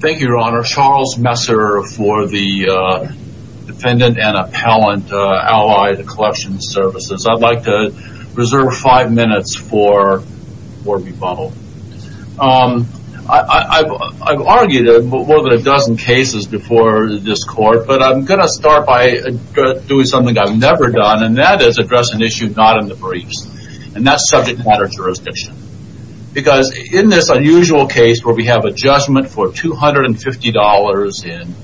Thank you, your honor. Charles Messer for the Defendant and Appellant, Allied Collection Services. I'd like to reserve five minutes for rebuttal. I've argued more than a dozen cases before this court, but I'm going to start by doing something I've never done, and that is address an issue not in the briefs, and that's subject matter jurisdiction. Because in this unusual case where we have a judgment for $250 in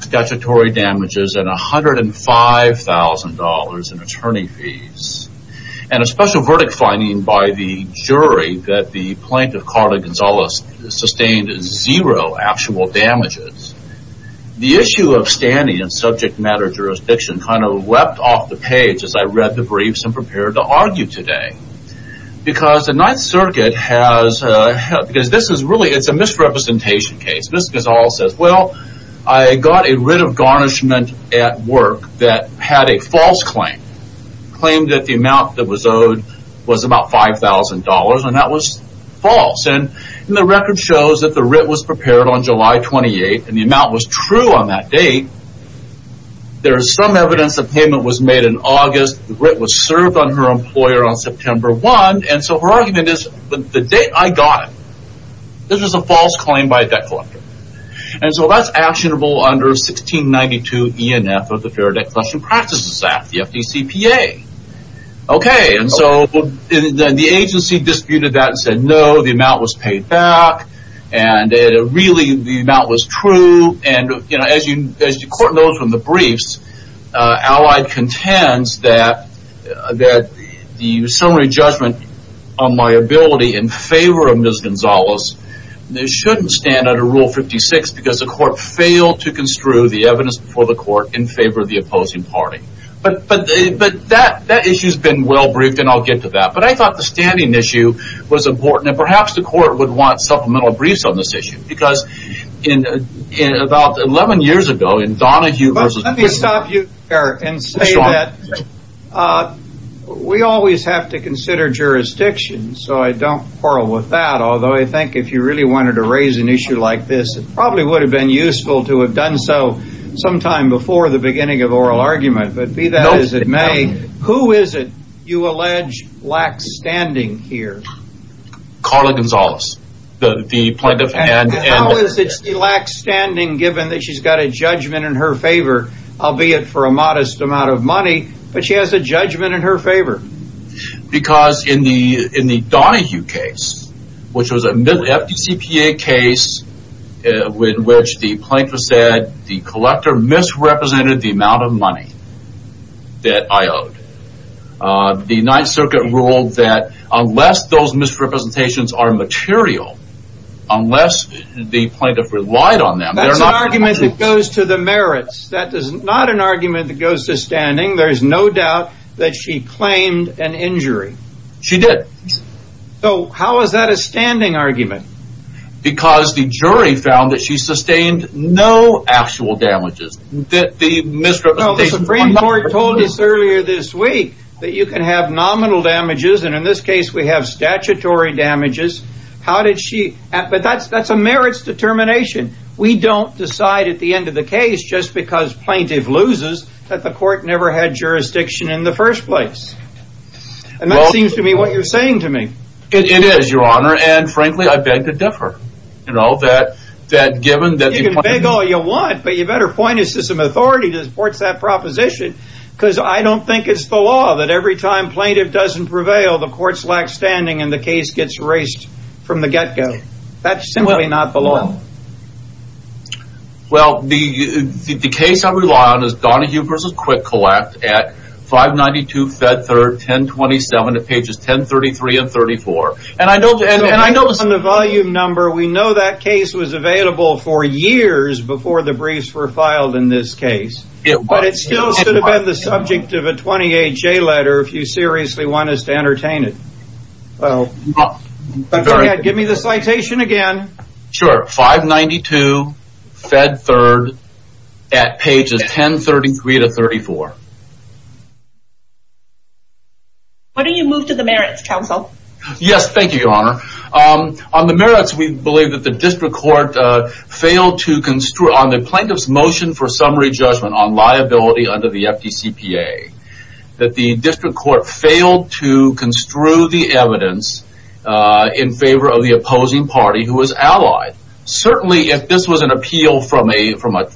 statutory damages and $105,000 in attorney fees, and a special verdict finding by the jury that the plaintiff, Carla Gonzalez, sustained zero actual damages, the issue of standing in subject matter jurisdiction kind of wept off the page as I read the briefs and prepared to argue today. Because the Ninth Circuit has, because this is really, it's a misrepresentation case. Ms. Gonzalez says, well, I got a writ of garnishment at work that had a false claim. Claimed that the amount that was owed was about $5,000, and that was false. And the record shows that the writ was prepared on July 28th, and the amount was true on that date. There is some evidence that payment was made in August. The writ was served on her employer on September 1. And so her argument is, the date I got it, this was a false claim by a debt collector. And so that's actionable under 1692 ENF of the Fair Debt Collection Practices Act, the FDCPA. Okay, and so the agency disputed that and said, no, the amount was paid back. And it really, the amount was true, and as the court knows from the briefs, Allied contends that the summary judgment on liability in favor of Ms. Gonzalez shouldn't stand under Rule 56 because the court failed to construe the evidence before the court in favor of the opposing party. But that issue's been well briefed, and I'll get to that. But I thought the standing issue was important, and perhaps the court would want supplemental briefs on this issue. Because about 11 years ago, in Donahue versus... Let me stop you there and say that we always have to consider jurisdiction, so I don't quarrel with that. Although I think if you really wanted to raise an issue like this, it probably would have been useful to have done so sometime before the beginning of oral argument. But be that as it may, who is it you allege lacks standing here? Carla Gonzalez, the plaintiff. And how is it she lacks standing given that she's got a judgment in her favor, albeit for a modest amount of money, but she has a judgment in her favor? Because in the Donahue case, which was a FDCPA case in which the plaintiff said that the collector misrepresented the amount of money that I owed, the 9th Circuit ruled that unless those misrepresentations are material, unless the plaintiff relied on them... That's an argument that goes to the merits. That is not an argument that goes to standing. There's no doubt that she claimed an injury. She did. So how is that a standing argument? Because the jury found that she sustained no actual damages. The Supreme Court told us earlier this week that you can have nominal damages, and in this case we have statutory damages. But that's a merits determination. We don't decide at the end of the case, just because plaintiff loses, that the court never had jurisdiction in the first place. And that seems to be what you're saying to me. It is, Your Honor, and frankly, I beg to differ. You can beg all you want, but you better point us to some authority that supports that proposition, because I don't think it's the law that every time plaintiff doesn't prevail, the courts lack standing and the case gets erased from the get-go. That's simply not the law. Well, the case I rely on is Donahue v. Quick Collect at 592 Fed 3rd, 1027 at pages 1033 and 1034. And I notice on the volume number, we know that case was available for years before the briefs were filed in this case. But it still should have been the subject of a 20HA letter if you seriously want us to entertain it. Well, give me the citation again. Sure, 592 Fed 3rd at pages 1033 to 1034. Why don't you move to the merits, counsel? Yes, thank you, Your Honor. On the merits, we believe that the district court failed to construe on the plaintiff's motion for summary judgment on liability under the FDCPA that the district court failed to construe the evidence in favor of the opposing party who was allied. Certainly, if this was an appeal from a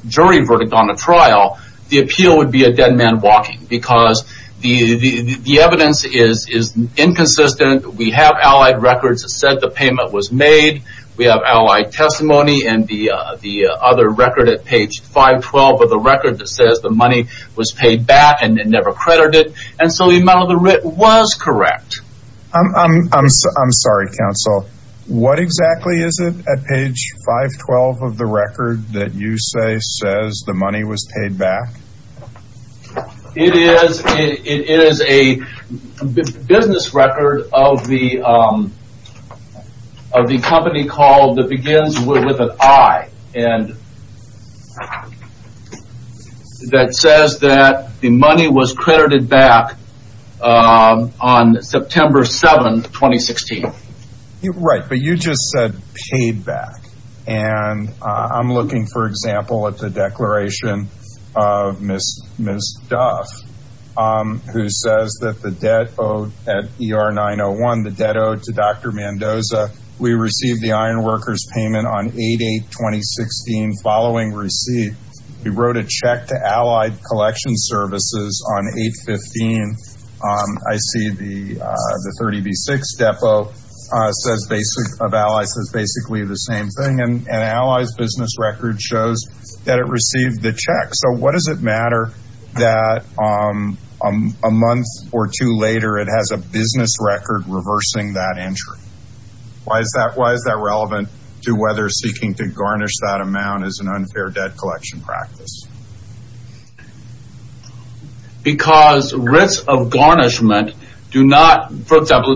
jury verdict on a trial, the appeal would be a dead man walking. Because the evidence is inconsistent. We have allied records that said the payment was made. We have allied testimony and the other record at page 512 of the record that says the money was paid back and never credited. And so the amount of the writ was correct. I'm sorry, counsel. What exactly is it at page 512 of the record that you say says the money was paid back? It is a business record of the company called that begins with an I. And that says that the money was credited back on September 7, 2016. Right, but you just said paid back. And I'm looking, for example, at the declaration of Ms. Duff who says that the debt owed at ER 901, the debt owed to Dr. Mendoza, we received the iron workers payment on 8-8-2016 following receipt. We wrote a check to allied collection services on 8-15. I see the 30B6 depot of allies says basically the same thing. And allies business record shows that it received the check. So what does it matter that a month or two later it has a business record reversing that entry? Why is that relevant to whether seeking to garnish that amount is an unfair debt collection practice? Because writs of garnishment do not, for example,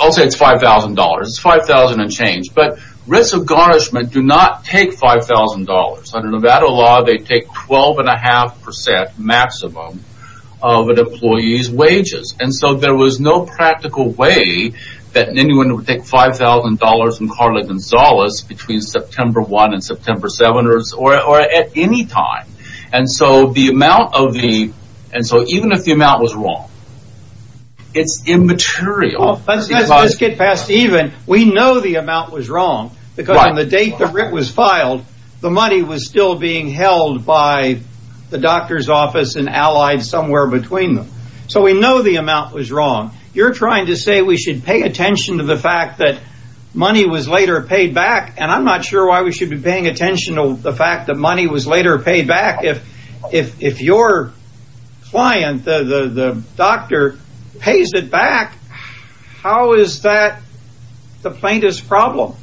I'll say it's $5,000. It's $5,000 and change. But writs of garnishment do not take $5,000. Under Nevada law, they take 12.5% maximum of an employee's wages. And so there was no practical way that anyone would take $5,000 from Carla Gonzalez between September 1 and September 7 or at any time. And so even if the amount was wrong, it's immaterial. Let's get past even. We know the amount was wrong because on the date the writ was filed, the money was still being held by the doctor's office and allied somewhere between them. So we know the amount was wrong. You're trying to say we should pay attention to the fact that money was later paid back. And I'm not sure why we should be paying attention to the fact that money was later paid back. If your client, the doctor, pays it back, how is that the plaintiff's problem?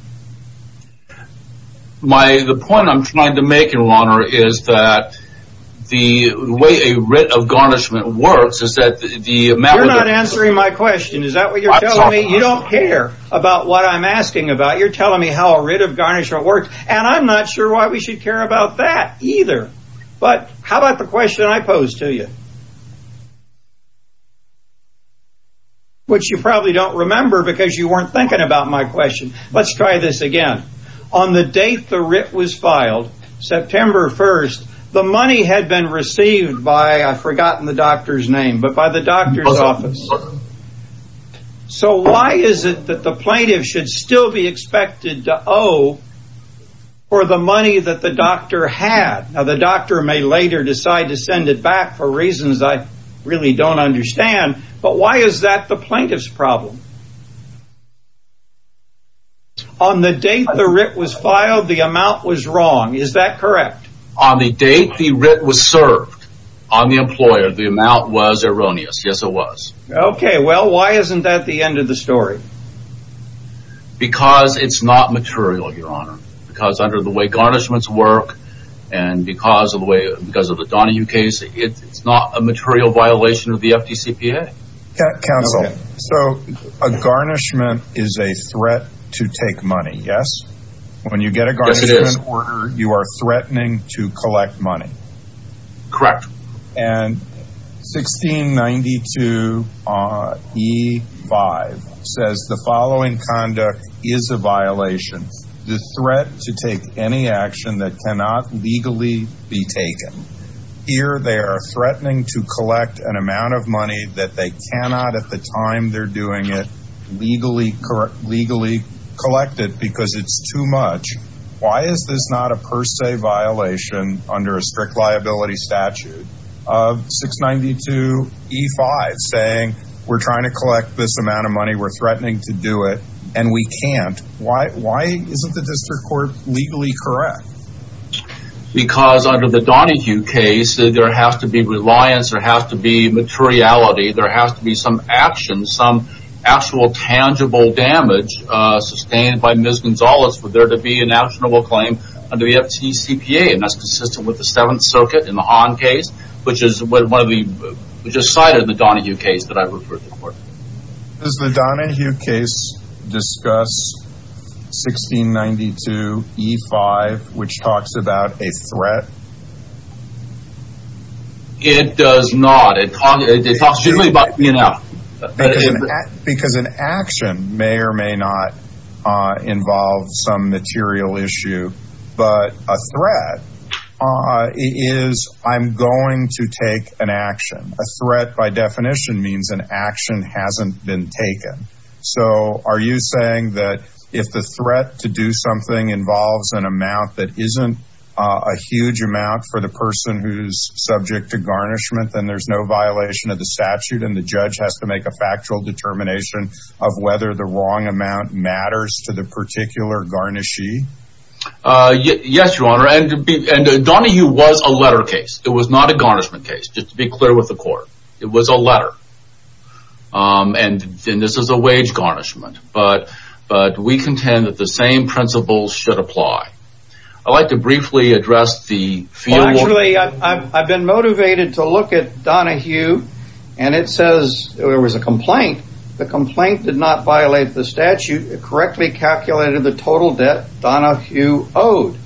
The point I'm trying to make, Your Honor, is that the way a writ of garnishment works You're not answering my question. Is that what you're telling me? You don't care about what I'm asking about. You're telling me how a writ of garnishment works. And I'm not sure why we should care about that either. But how about the question I posed to you? Which you probably don't remember because you weren't thinking about my question. Let's try this again. On the date the writ was filed, September 1, the money had been received by, I've forgotten the doctor's name, but by the doctor's office. So why is it that the plaintiff should still be expected to owe for the money that the doctor had? Now the doctor may later decide to send it back for reasons I really don't understand. But why is that the plaintiff's problem? On the date the writ was filed, the amount was wrong. Is that correct? On the date the writ was served, on the employer, the amount was erroneous. Yes, it was. Okay, well, why isn't that the end of the story? Because it's not material, Your Honor. Because under the way garnishments work and because of the Donahue case, it's not a material violation of the FDCPA. Counsel, so a garnishment is a threat to take money, yes? When you get a garnishment order, you are threatening to collect money. Correct. And 1692E5 says, the following conduct is a violation. The threat to take any action that cannot legally be taken. Here they are threatening to collect an amount of money that they cannot, at the time they're doing it, legally collect it because it's too much. Why is this not a per se violation under a strict liability statute of 692E5 saying we're trying to collect this amount of money, we're threatening to do it, and we can't? Why isn't the district court legally correct? Because under the Donahue case, there has to be reliance, there has to be materiality, there has to be some action, some actual tangible damage sustained by Ms. Gonzalez for there to be an actionable claim under the FTCPA, and that's consistent with the Seventh Circuit in the Hahn case, which is cited in the Donahue case that I referred to before. Does the Donahue case discuss 1692E5, which talks about a threat? It does not. It talks usually about, you know... Because an action may or may not involve some material issue. But a threat is, I'm going to take an action. A threat, by definition, means an action hasn't been taken. So are you saying that if the threat to do something involves an amount that isn't a huge amount for the person who's subject to garnishment, then there's no violation of the statute and the judge has to make a factual determination of whether the wrong amount matters to the particular garnishee? Yes, Your Honor. And Donahue was a letter case. It was not a garnishment case, just to be clear with the court. It was a letter. And this is a wage garnishment. But we contend that the same principles should apply. I'd like to briefly address the... Actually, I've been motivated to look at Donahue, and it says there was a complaint. The complaint did not violate the statute. It correctly calculated the total debt Donahue owed.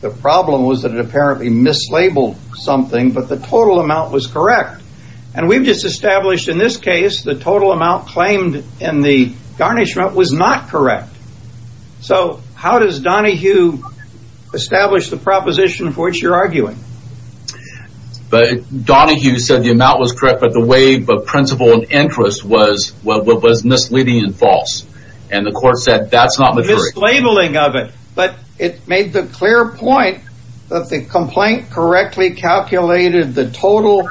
The problem was that it apparently mislabeled something, but the total amount was correct. And we've just established in this case the total amount claimed in the garnishment was not correct. So how does Donahue establish the proposition for which you're arguing? Donahue said the amount was correct, but the waive of principle and interest was misleading and false. And the court said that's not... Mislabeling of it. But it made the clear point that the complaint correctly calculated the total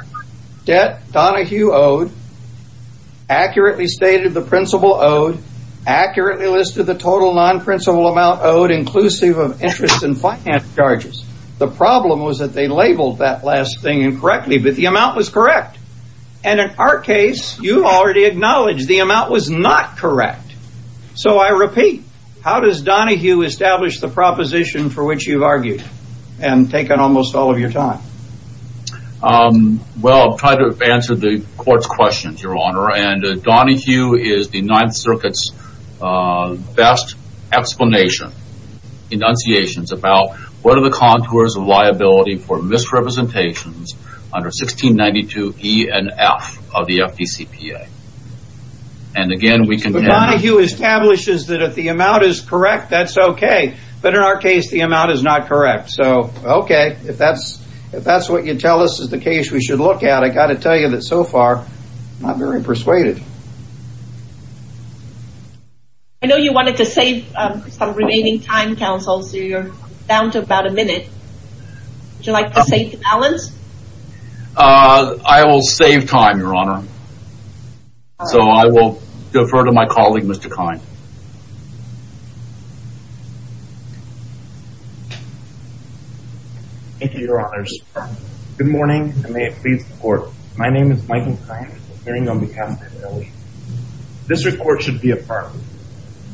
debt Donahue owed, accurately stated the principle owed, accurately listed the total non-principle amount owed, inclusive of interest and finance charges. The problem was that they labeled that last thing incorrectly, but the amount was correct. And in our case, you've already acknowledged the amount was not correct. So I repeat, how does Donahue establish the proposition for which you've argued? And taken almost all of your time. Well, I've tried to answer the court's questions, Your Honor, and Donahue is the Ninth Circuit's best explanation, enunciations, about what are the contours of liability for misrepresentations under 1692 E and F of the FDCPA. And again, we can... So Donahue establishes that if the amount is correct, that's okay. But in our case, the amount is not correct. So, okay, if that's what you tell us is the case we should look at, I've got to tell you that so far, I'm not very persuaded. I know you wanted to save some remaining time, Counsel, so you're down to about a minute. Would you like to save balance? I will save time, Your Honor. So I will defer to my colleague, Mr. Kine. Thank you, Your Honors. Good morning, and may it please the Court, my name is Michael Kine, appearing on behalf of the family. This report should be affirmed.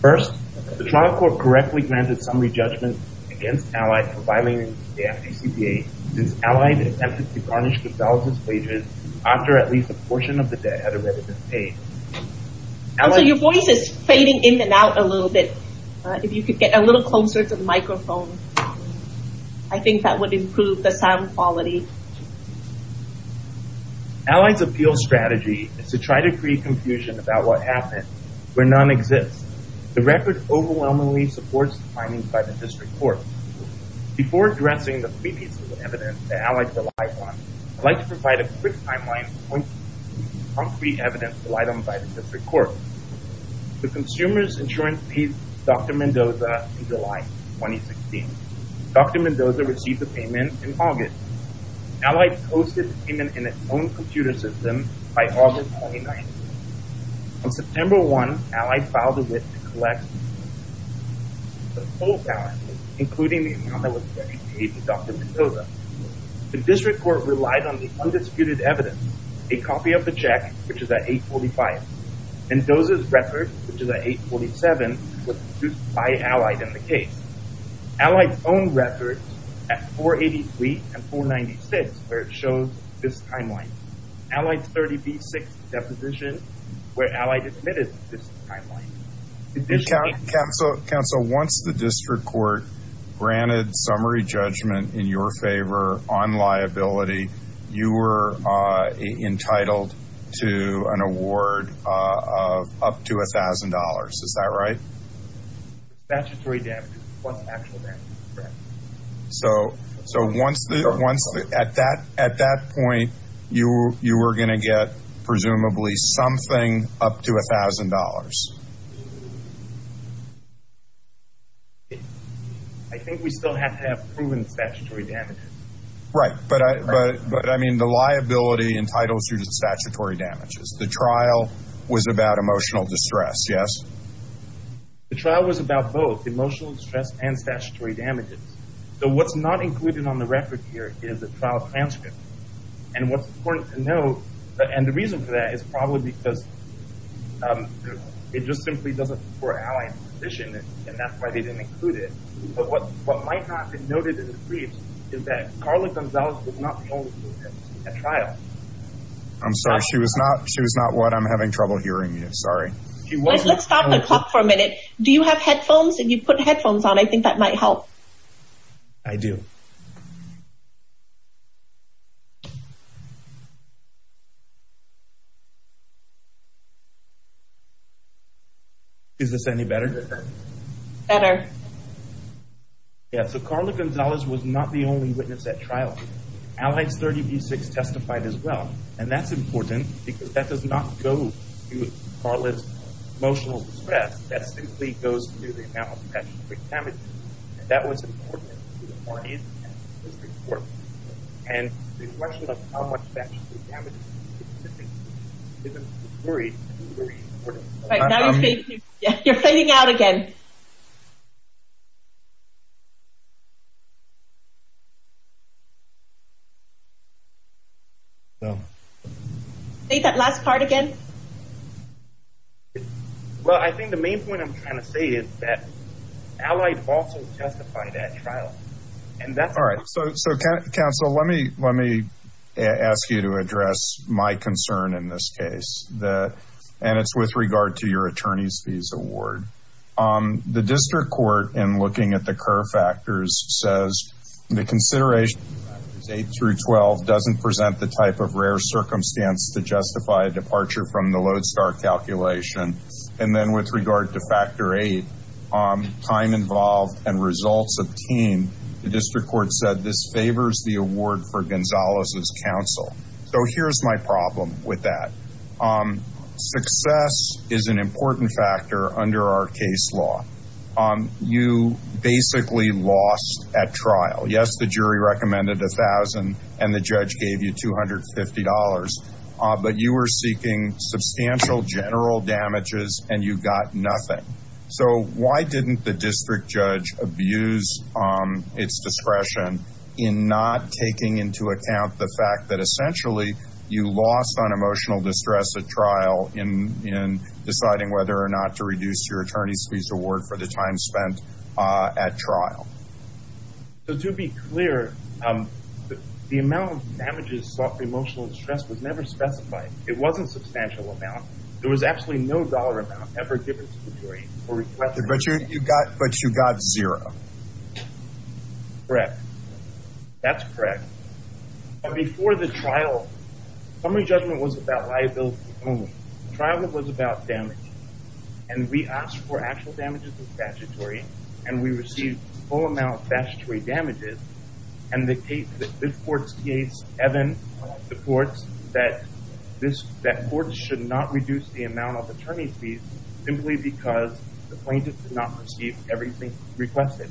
First, the trial court correctly granted summary judgment against Allied for violating the FDCPA since Allied attempted to garnish the felon's wages after at least a portion of the debt had already been paid. Also, your voice is fading in and out a little bit. If you could get a little closer to the microphone, I think that would improve the sound quality. Allied's appeal strategy is to try to create confusion about what happened where none exists. The record overwhelmingly supports the findings by the district court. Before addressing the previous evidence that Allied relied on, I'd like to provide a quick timeline of concrete evidence relied on by the district court. The consumer's insurance paid Dr. Mendoza in July 2016. Dr. Mendoza received the payment in August. Allied posted the payment in its own computer system by August 2019. On September 1, Allied filed a wit to collect the full balance, including the amount that was paid to Dr. Mendoza. The district court relied on the undisputed evidence, a copy of the check, which is at 845. Mendoza's record, which is at 847, was produced by Allied in the case. Allied's own records at 483 and 496 show this timeline. Allied's 30B6 deposition, where Allied admitted this timeline. Counsel, once the district court granted summary judgment in your favor on liability, you were entitled to an award of up to $1,000. Is that right? Statutory damages plus actual damages, correct. So at that point, you were going to get presumably something up to $1,000. I think we still have to have proven statutory damages. Right, but I mean the liability entitles you to statutory damages. The trial was about emotional distress, yes? The trial was about both emotional distress and statutory damages. So what's not included on the record here is a trial transcript. And what's important to note, and the reason for that is probably because it just simply doesn't support Allied's position, and that's why they didn't include it. But what might not be noted in the brief is that Carla Gonzales did not hold a trial. I'm sorry, she was not what I'm having trouble hearing, sorry. Let's stop the clock for a minute. Do you have headphones? If you put headphones on, I think that might help. I do. Is this any better? Better. Yeah, so Carla Gonzales was not the only witness at trial. Allied's 30 v. 6 testified as well, and that's important because that does not go to Carla's emotional distress. That simply goes to the amount of statutory damages, and that was important to the audience and to the court. And the question of how much statutory damages is simply given to the jury and to the jury in court. Right, now you're fading out again. Say that last part again. Well, I think the main point I'm trying to say is that Allied also testified at trial. All right, so, counsel, let me ask you to address my concern in this case, and it's with regard to your attorney's fees award. The district court, in looking at the Kerr factors, says the consideration of factors 8 through 12 doesn't present the type of rare circumstance to justify a departure from the Lodestar calculation. And then with regard to factor 8, time involved and results obtained, the district court said this favors the award for Gonzales' counsel. So here's my problem with that. Success is an important factor under our case law. You basically lost at trial. Yes, the jury recommended $1,000, and the judge gave you $250, but you were seeking substantial general damages, and you got nothing. So why didn't the district judge abuse its discretion in not taking into account the fact that, essentially, you lost on emotional distress at trial in deciding whether or not to reduce your attorney's fees award for the time spent at trial? To be clear, the amount of damages sought for emotional distress was never specified. It wasn't a substantial amount. There was absolutely no dollar amount ever given to the jury or requested. But you got zero. Correct. That's correct. Before the trial, summary judgment was about liability only. The trial was about damage, and we asked for actual damages of statutory, and we received a full amount of statutory damages. And the case, this court's case, Evan, the courts, that courts should not reduce the amount of attorney's fees simply because the plaintiff did not receive everything requested.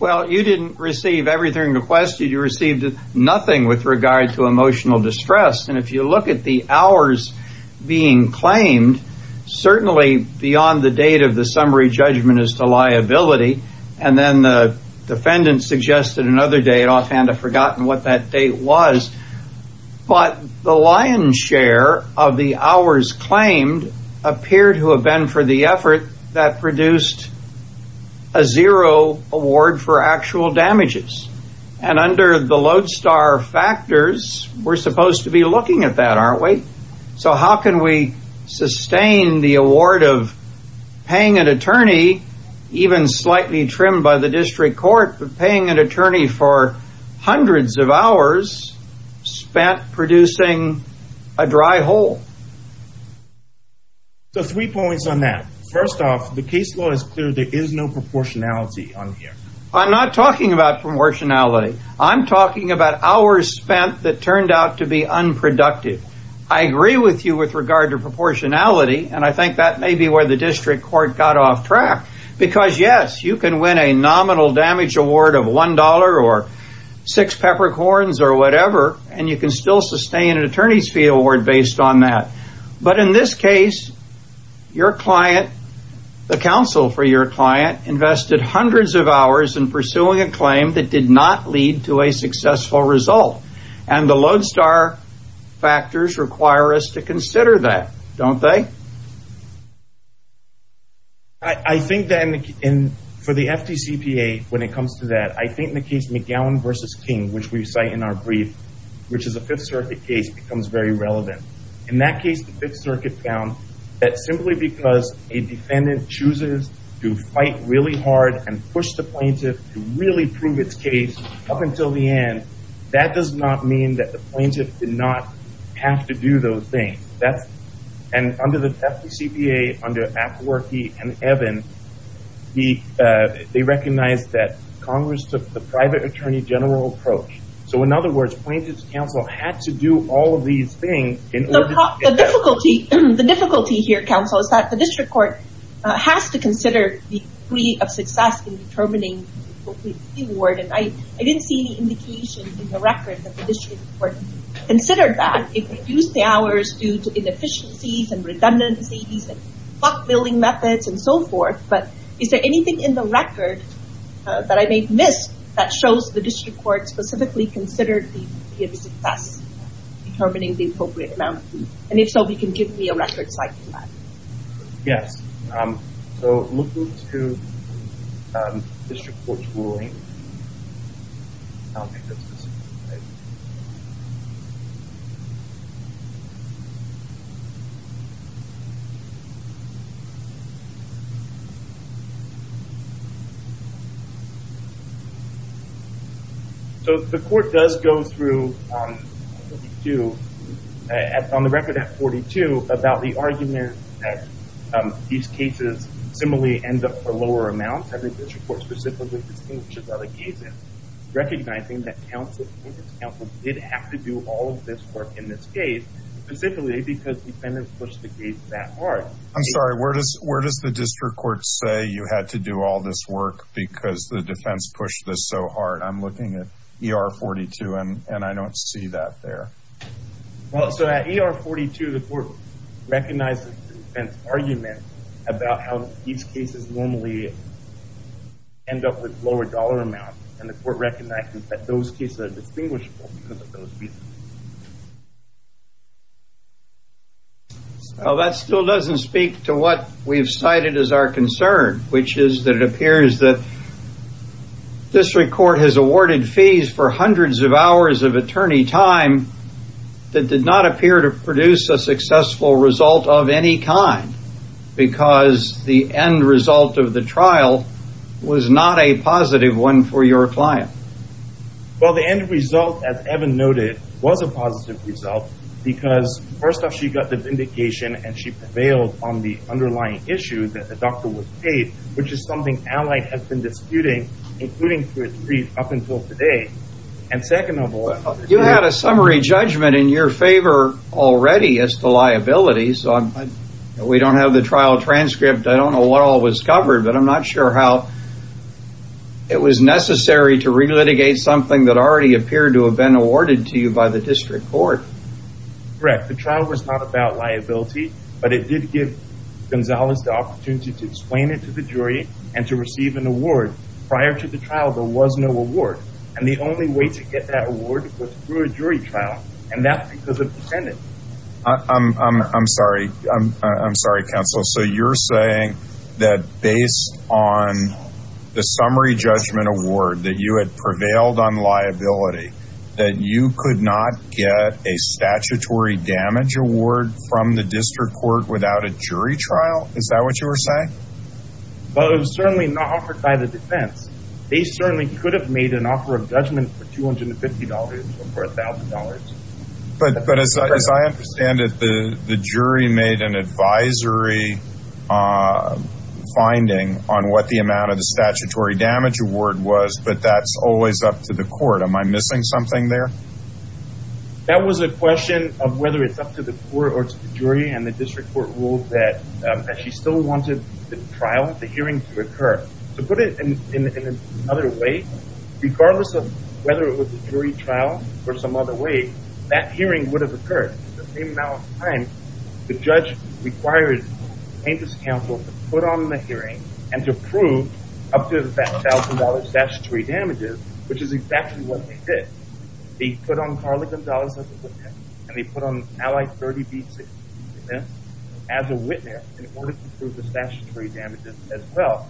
Well, you didn't receive everything requested. You received nothing with regard to emotional distress. And if you look at the hours being claimed, certainly beyond the date of the summary judgment is the liability. And then the defendant suggested another date. Offhand, I've forgotten what that date was. But the lion's share of the hours claimed appeared to have been for the effort that produced a zero award for actual damages. And under the lodestar factors, we're supposed to be looking at that, aren't we? So how can we sustain the award of paying an attorney, even slightly trimmed by the district court, paying an attorney for hundreds of hours spent producing a dry hole? So three points on that. First off, the case law is clear. There is no proportionality on here. I'm not talking about proportionality. I'm talking about hours spent that turned out to be unproductive. I agree with you with regard to proportionality, and I think that may be where the district court got off track. Because, yes, you can win a nominal damage award of $1 or six peppercorns or whatever, and you can still sustain an attorney's fee award based on that. But in this case, your client, the counsel for your client, invested hundreds of hours in pursuing a claim that did not lead to a successful result. And the lodestar factors require us to consider that, don't they? I think that for the FDCPA, when it comes to that, I think the case McGowan v. King, which we cite in our brief, which is a Fifth Circuit case, becomes very relevant. In that case, the Fifth Circuit found that simply because a defendant chooses to fight really hard and push the plaintiff to really prove its case up until the end, that does not mean that the plaintiff did not have to do those things. And under the FDCPA, under Apwerky and Evan, they recognized that Congress took the private attorney general approach. So, in other words, plaintiff's counsel had to do all of these things in order to get evidence. The difficulty here, counsel, is that the district court has to consider the degree of success in determining the appropriate fee award. And I didn't see any indication in the record that the district court considered that. It reduced the hours due to inefficiencies and redundancies and clock building methods and so forth. But is there anything in the record that I may have missed that shows the district court specifically considered the degree of success in determining the appropriate amount of fee? And if so, if you can give me a record citing that. Yes. So, looking to district court's ruling, I don't think that's specific. So, the court does go through, on the record at 42, about the argument that these cases similarly end up for lower amounts. And the district court specifically distinguishes other cases, recognizing that plaintiff's counsel did have to do all of this work in this case, specifically because defendants pushed the case that hard. I'm sorry, where does the district court say you had to do all this work because the defense pushed this so hard? I'm looking at ER 42, and I don't see that there. Well, so at ER 42, the court recognizes the defense argument about how these cases normally end up with lower dollar amounts, and the court recognizes that those cases are distinguishable because of those reasons. Well, that still doesn't speak to what we've cited as our concern, which is that it appears that district court has awarded fees for hundreds of hours of attorney time that did not appear to produce a successful result of any kind. Because the end result of the trial was not a positive one for your client. Well, the end result, as Evan noted, was a positive result because first off, she got the vindication, and she prevailed on the underlying issue that the doctor was paid, which is something Allied has been disputing, including to a degree, up until today. And second of all... You had a summary judgment in your favor already as to liabilities. We don't have the trial transcript. I don't know what all was covered, but I'm not sure how it was necessary to relitigate something that already appeared to have been awarded to you by the district court. Correct. The trial was not about liability, but it did give Gonzalez the opportunity to explain it to the jury and to receive an award. Prior to the trial, there was no award, and the only way to get that award was through a jury trial, and that's because of the defendant. I'm sorry, counsel. So you're saying that based on the summary judgment award that you had prevailed on liability, that you could not get a statutory damage award from the district court without a jury trial? Is that what you were saying? Well, it was certainly not offered by the defense. They certainly could have made an offer of judgment for $250 or for $1,000. But as I understand it, the jury made an advisory finding on what the amount of the statutory damage award was, but that's always up to the court. Am I missing something there? That was a question of whether it's up to the court or to the jury, and the district court ruled that she still wanted the hearing to occur. To put it in another way, regardless of whether it was a jury trial or some other way, that hearing would have occurred. At the same amount of time, the judge required plaintiff's counsel to put on the hearing and to prove up to that $1,000 statutory damages, which is exactly what they did. They put on Carly Gonzalez as a witness, and they put on Allie 30B6 as a witness in order to prove the statutory damages as well.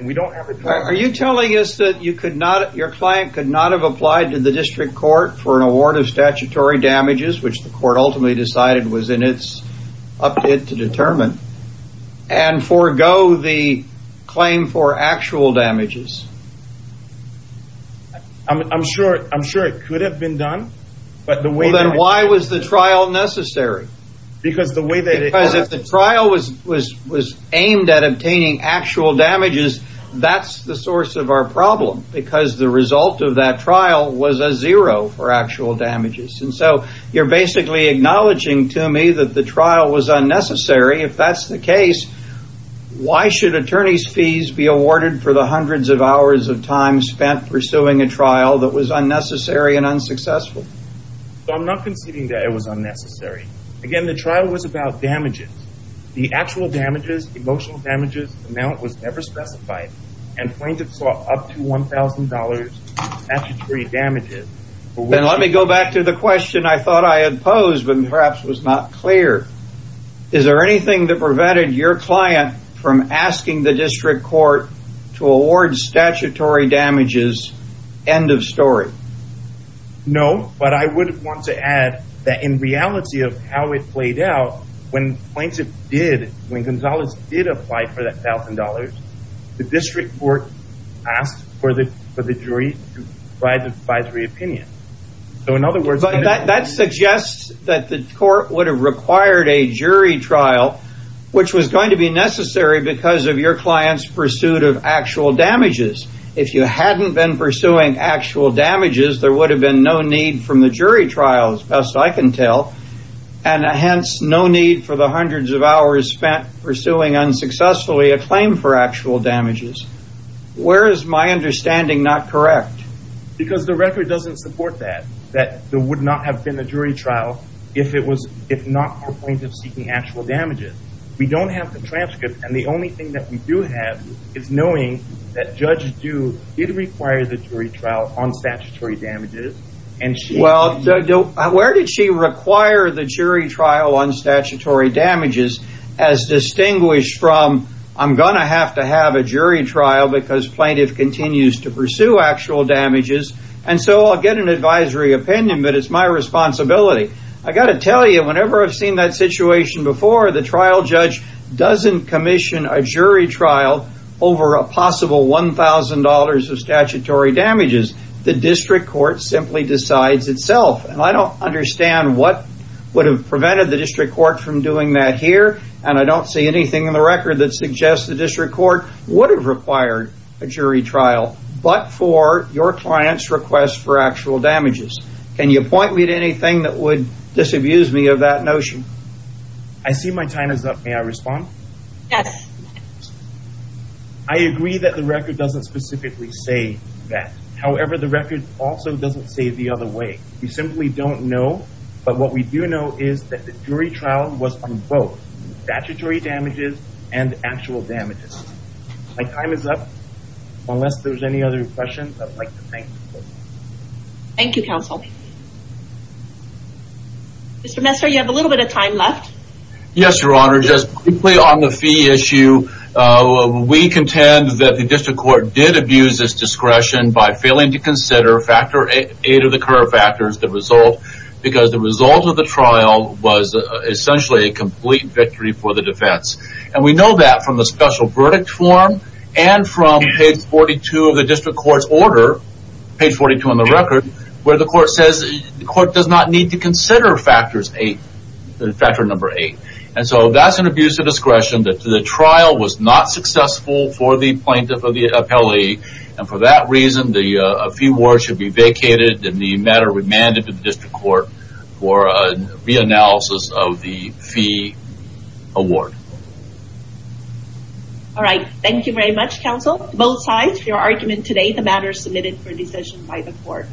Are you telling us that your client could not have applied to the district court for an award of statutory damages, which the court ultimately decided was in its update to determine, and forego the claim for actual damages? I'm sure it could have been done. Then why was the trial necessary? Because if the trial was aimed at obtaining actual damages, that's the source of our problem, because the result of that trial was a zero for actual damages. You're basically acknowledging to me that the trial was unnecessary. If that's the case, why should attorney's fees be awarded for the hundreds of hours of time spent pursuing a trial that was unnecessary and unsuccessful? I'm not conceding that it was unnecessary. Again, the trial was about damages. The actual damages, emotional damages amount was never specified, and plaintiffs saw up to $1,000 statutory damages. Then let me go back to the question I thought I had posed, but perhaps was not clear. Is there anything that prevented your client from asking the district court to award statutory damages? End of story. No, but I would want to add that in reality of how it played out, when plaintiff did, when Gonzalez did apply for that $1,000, the district court asked for the jury to provide the advisory opinion. In other words- That suggests that the court would have required a jury trial, which was going to be necessary because of your client's pursuit of actual damages. If you hadn't been pursuing actual damages, there would have been no need from the jury trial, as best I can tell, and hence no need for the hundreds of hours spent pursuing unsuccessfully a claim for actual damages. Where is my understanding not correct? Because the record doesn't support that, that there would not have been a jury trial if not for plaintiffs seeking actual damages. We don't have the transcript, and the only thing that we do have is knowing that Judge Dew did require the jury trial on statutory damages. Well, where did she require the jury trial on statutory damages as distinguished from, I'm going to have to have a jury trial because plaintiff continues to pursue actual damages, and so I'll get an advisory opinion, but it's my responsibility. I've got to tell you, whenever I've seen that situation before, the trial judge doesn't commission a jury trial over a possible $1,000 of statutory damages. The district court simply decides itself, and I don't understand what would have prevented the district court from doing that here, and I don't see anything in the record that suggests the district court would have required a jury trial but for your client's request for actual damages. Can you point me to anything that would disabuse me of that notion? I see my time is up. May I respond? Yes. I agree that the record doesn't specifically say that. However, the record also doesn't say it the other way. We simply don't know, but what we do know is that the jury trial was on both statutory damages and actual damages. My time is up. Unless there's any other questions, I'd like to thank you both. Thank you, counsel. Mr. Messer, you have a little bit of time left. Yes, Your Honor. Just quickly on the fee issue, we contend that the district court did abuse its discretion by failing to consider factor eight of the current factors, the result, because the result of the trial was essentially a complete victory for the defense. And we know that from the special verdict form and from page 42 of the district court's order, page 42 on the record, where the court says the court does not need to consider factors eight, factor number eight. And so that's an abuse of discretion. The trial was not successful for the plaintiff or the appellee, and for that reason, the fee award should be vacated and the matter remanded to the district court for a reanalysis of the fee award. All right. Thank you very much, counsel, both sides for your argument today. The matter is submitted for decision by the court.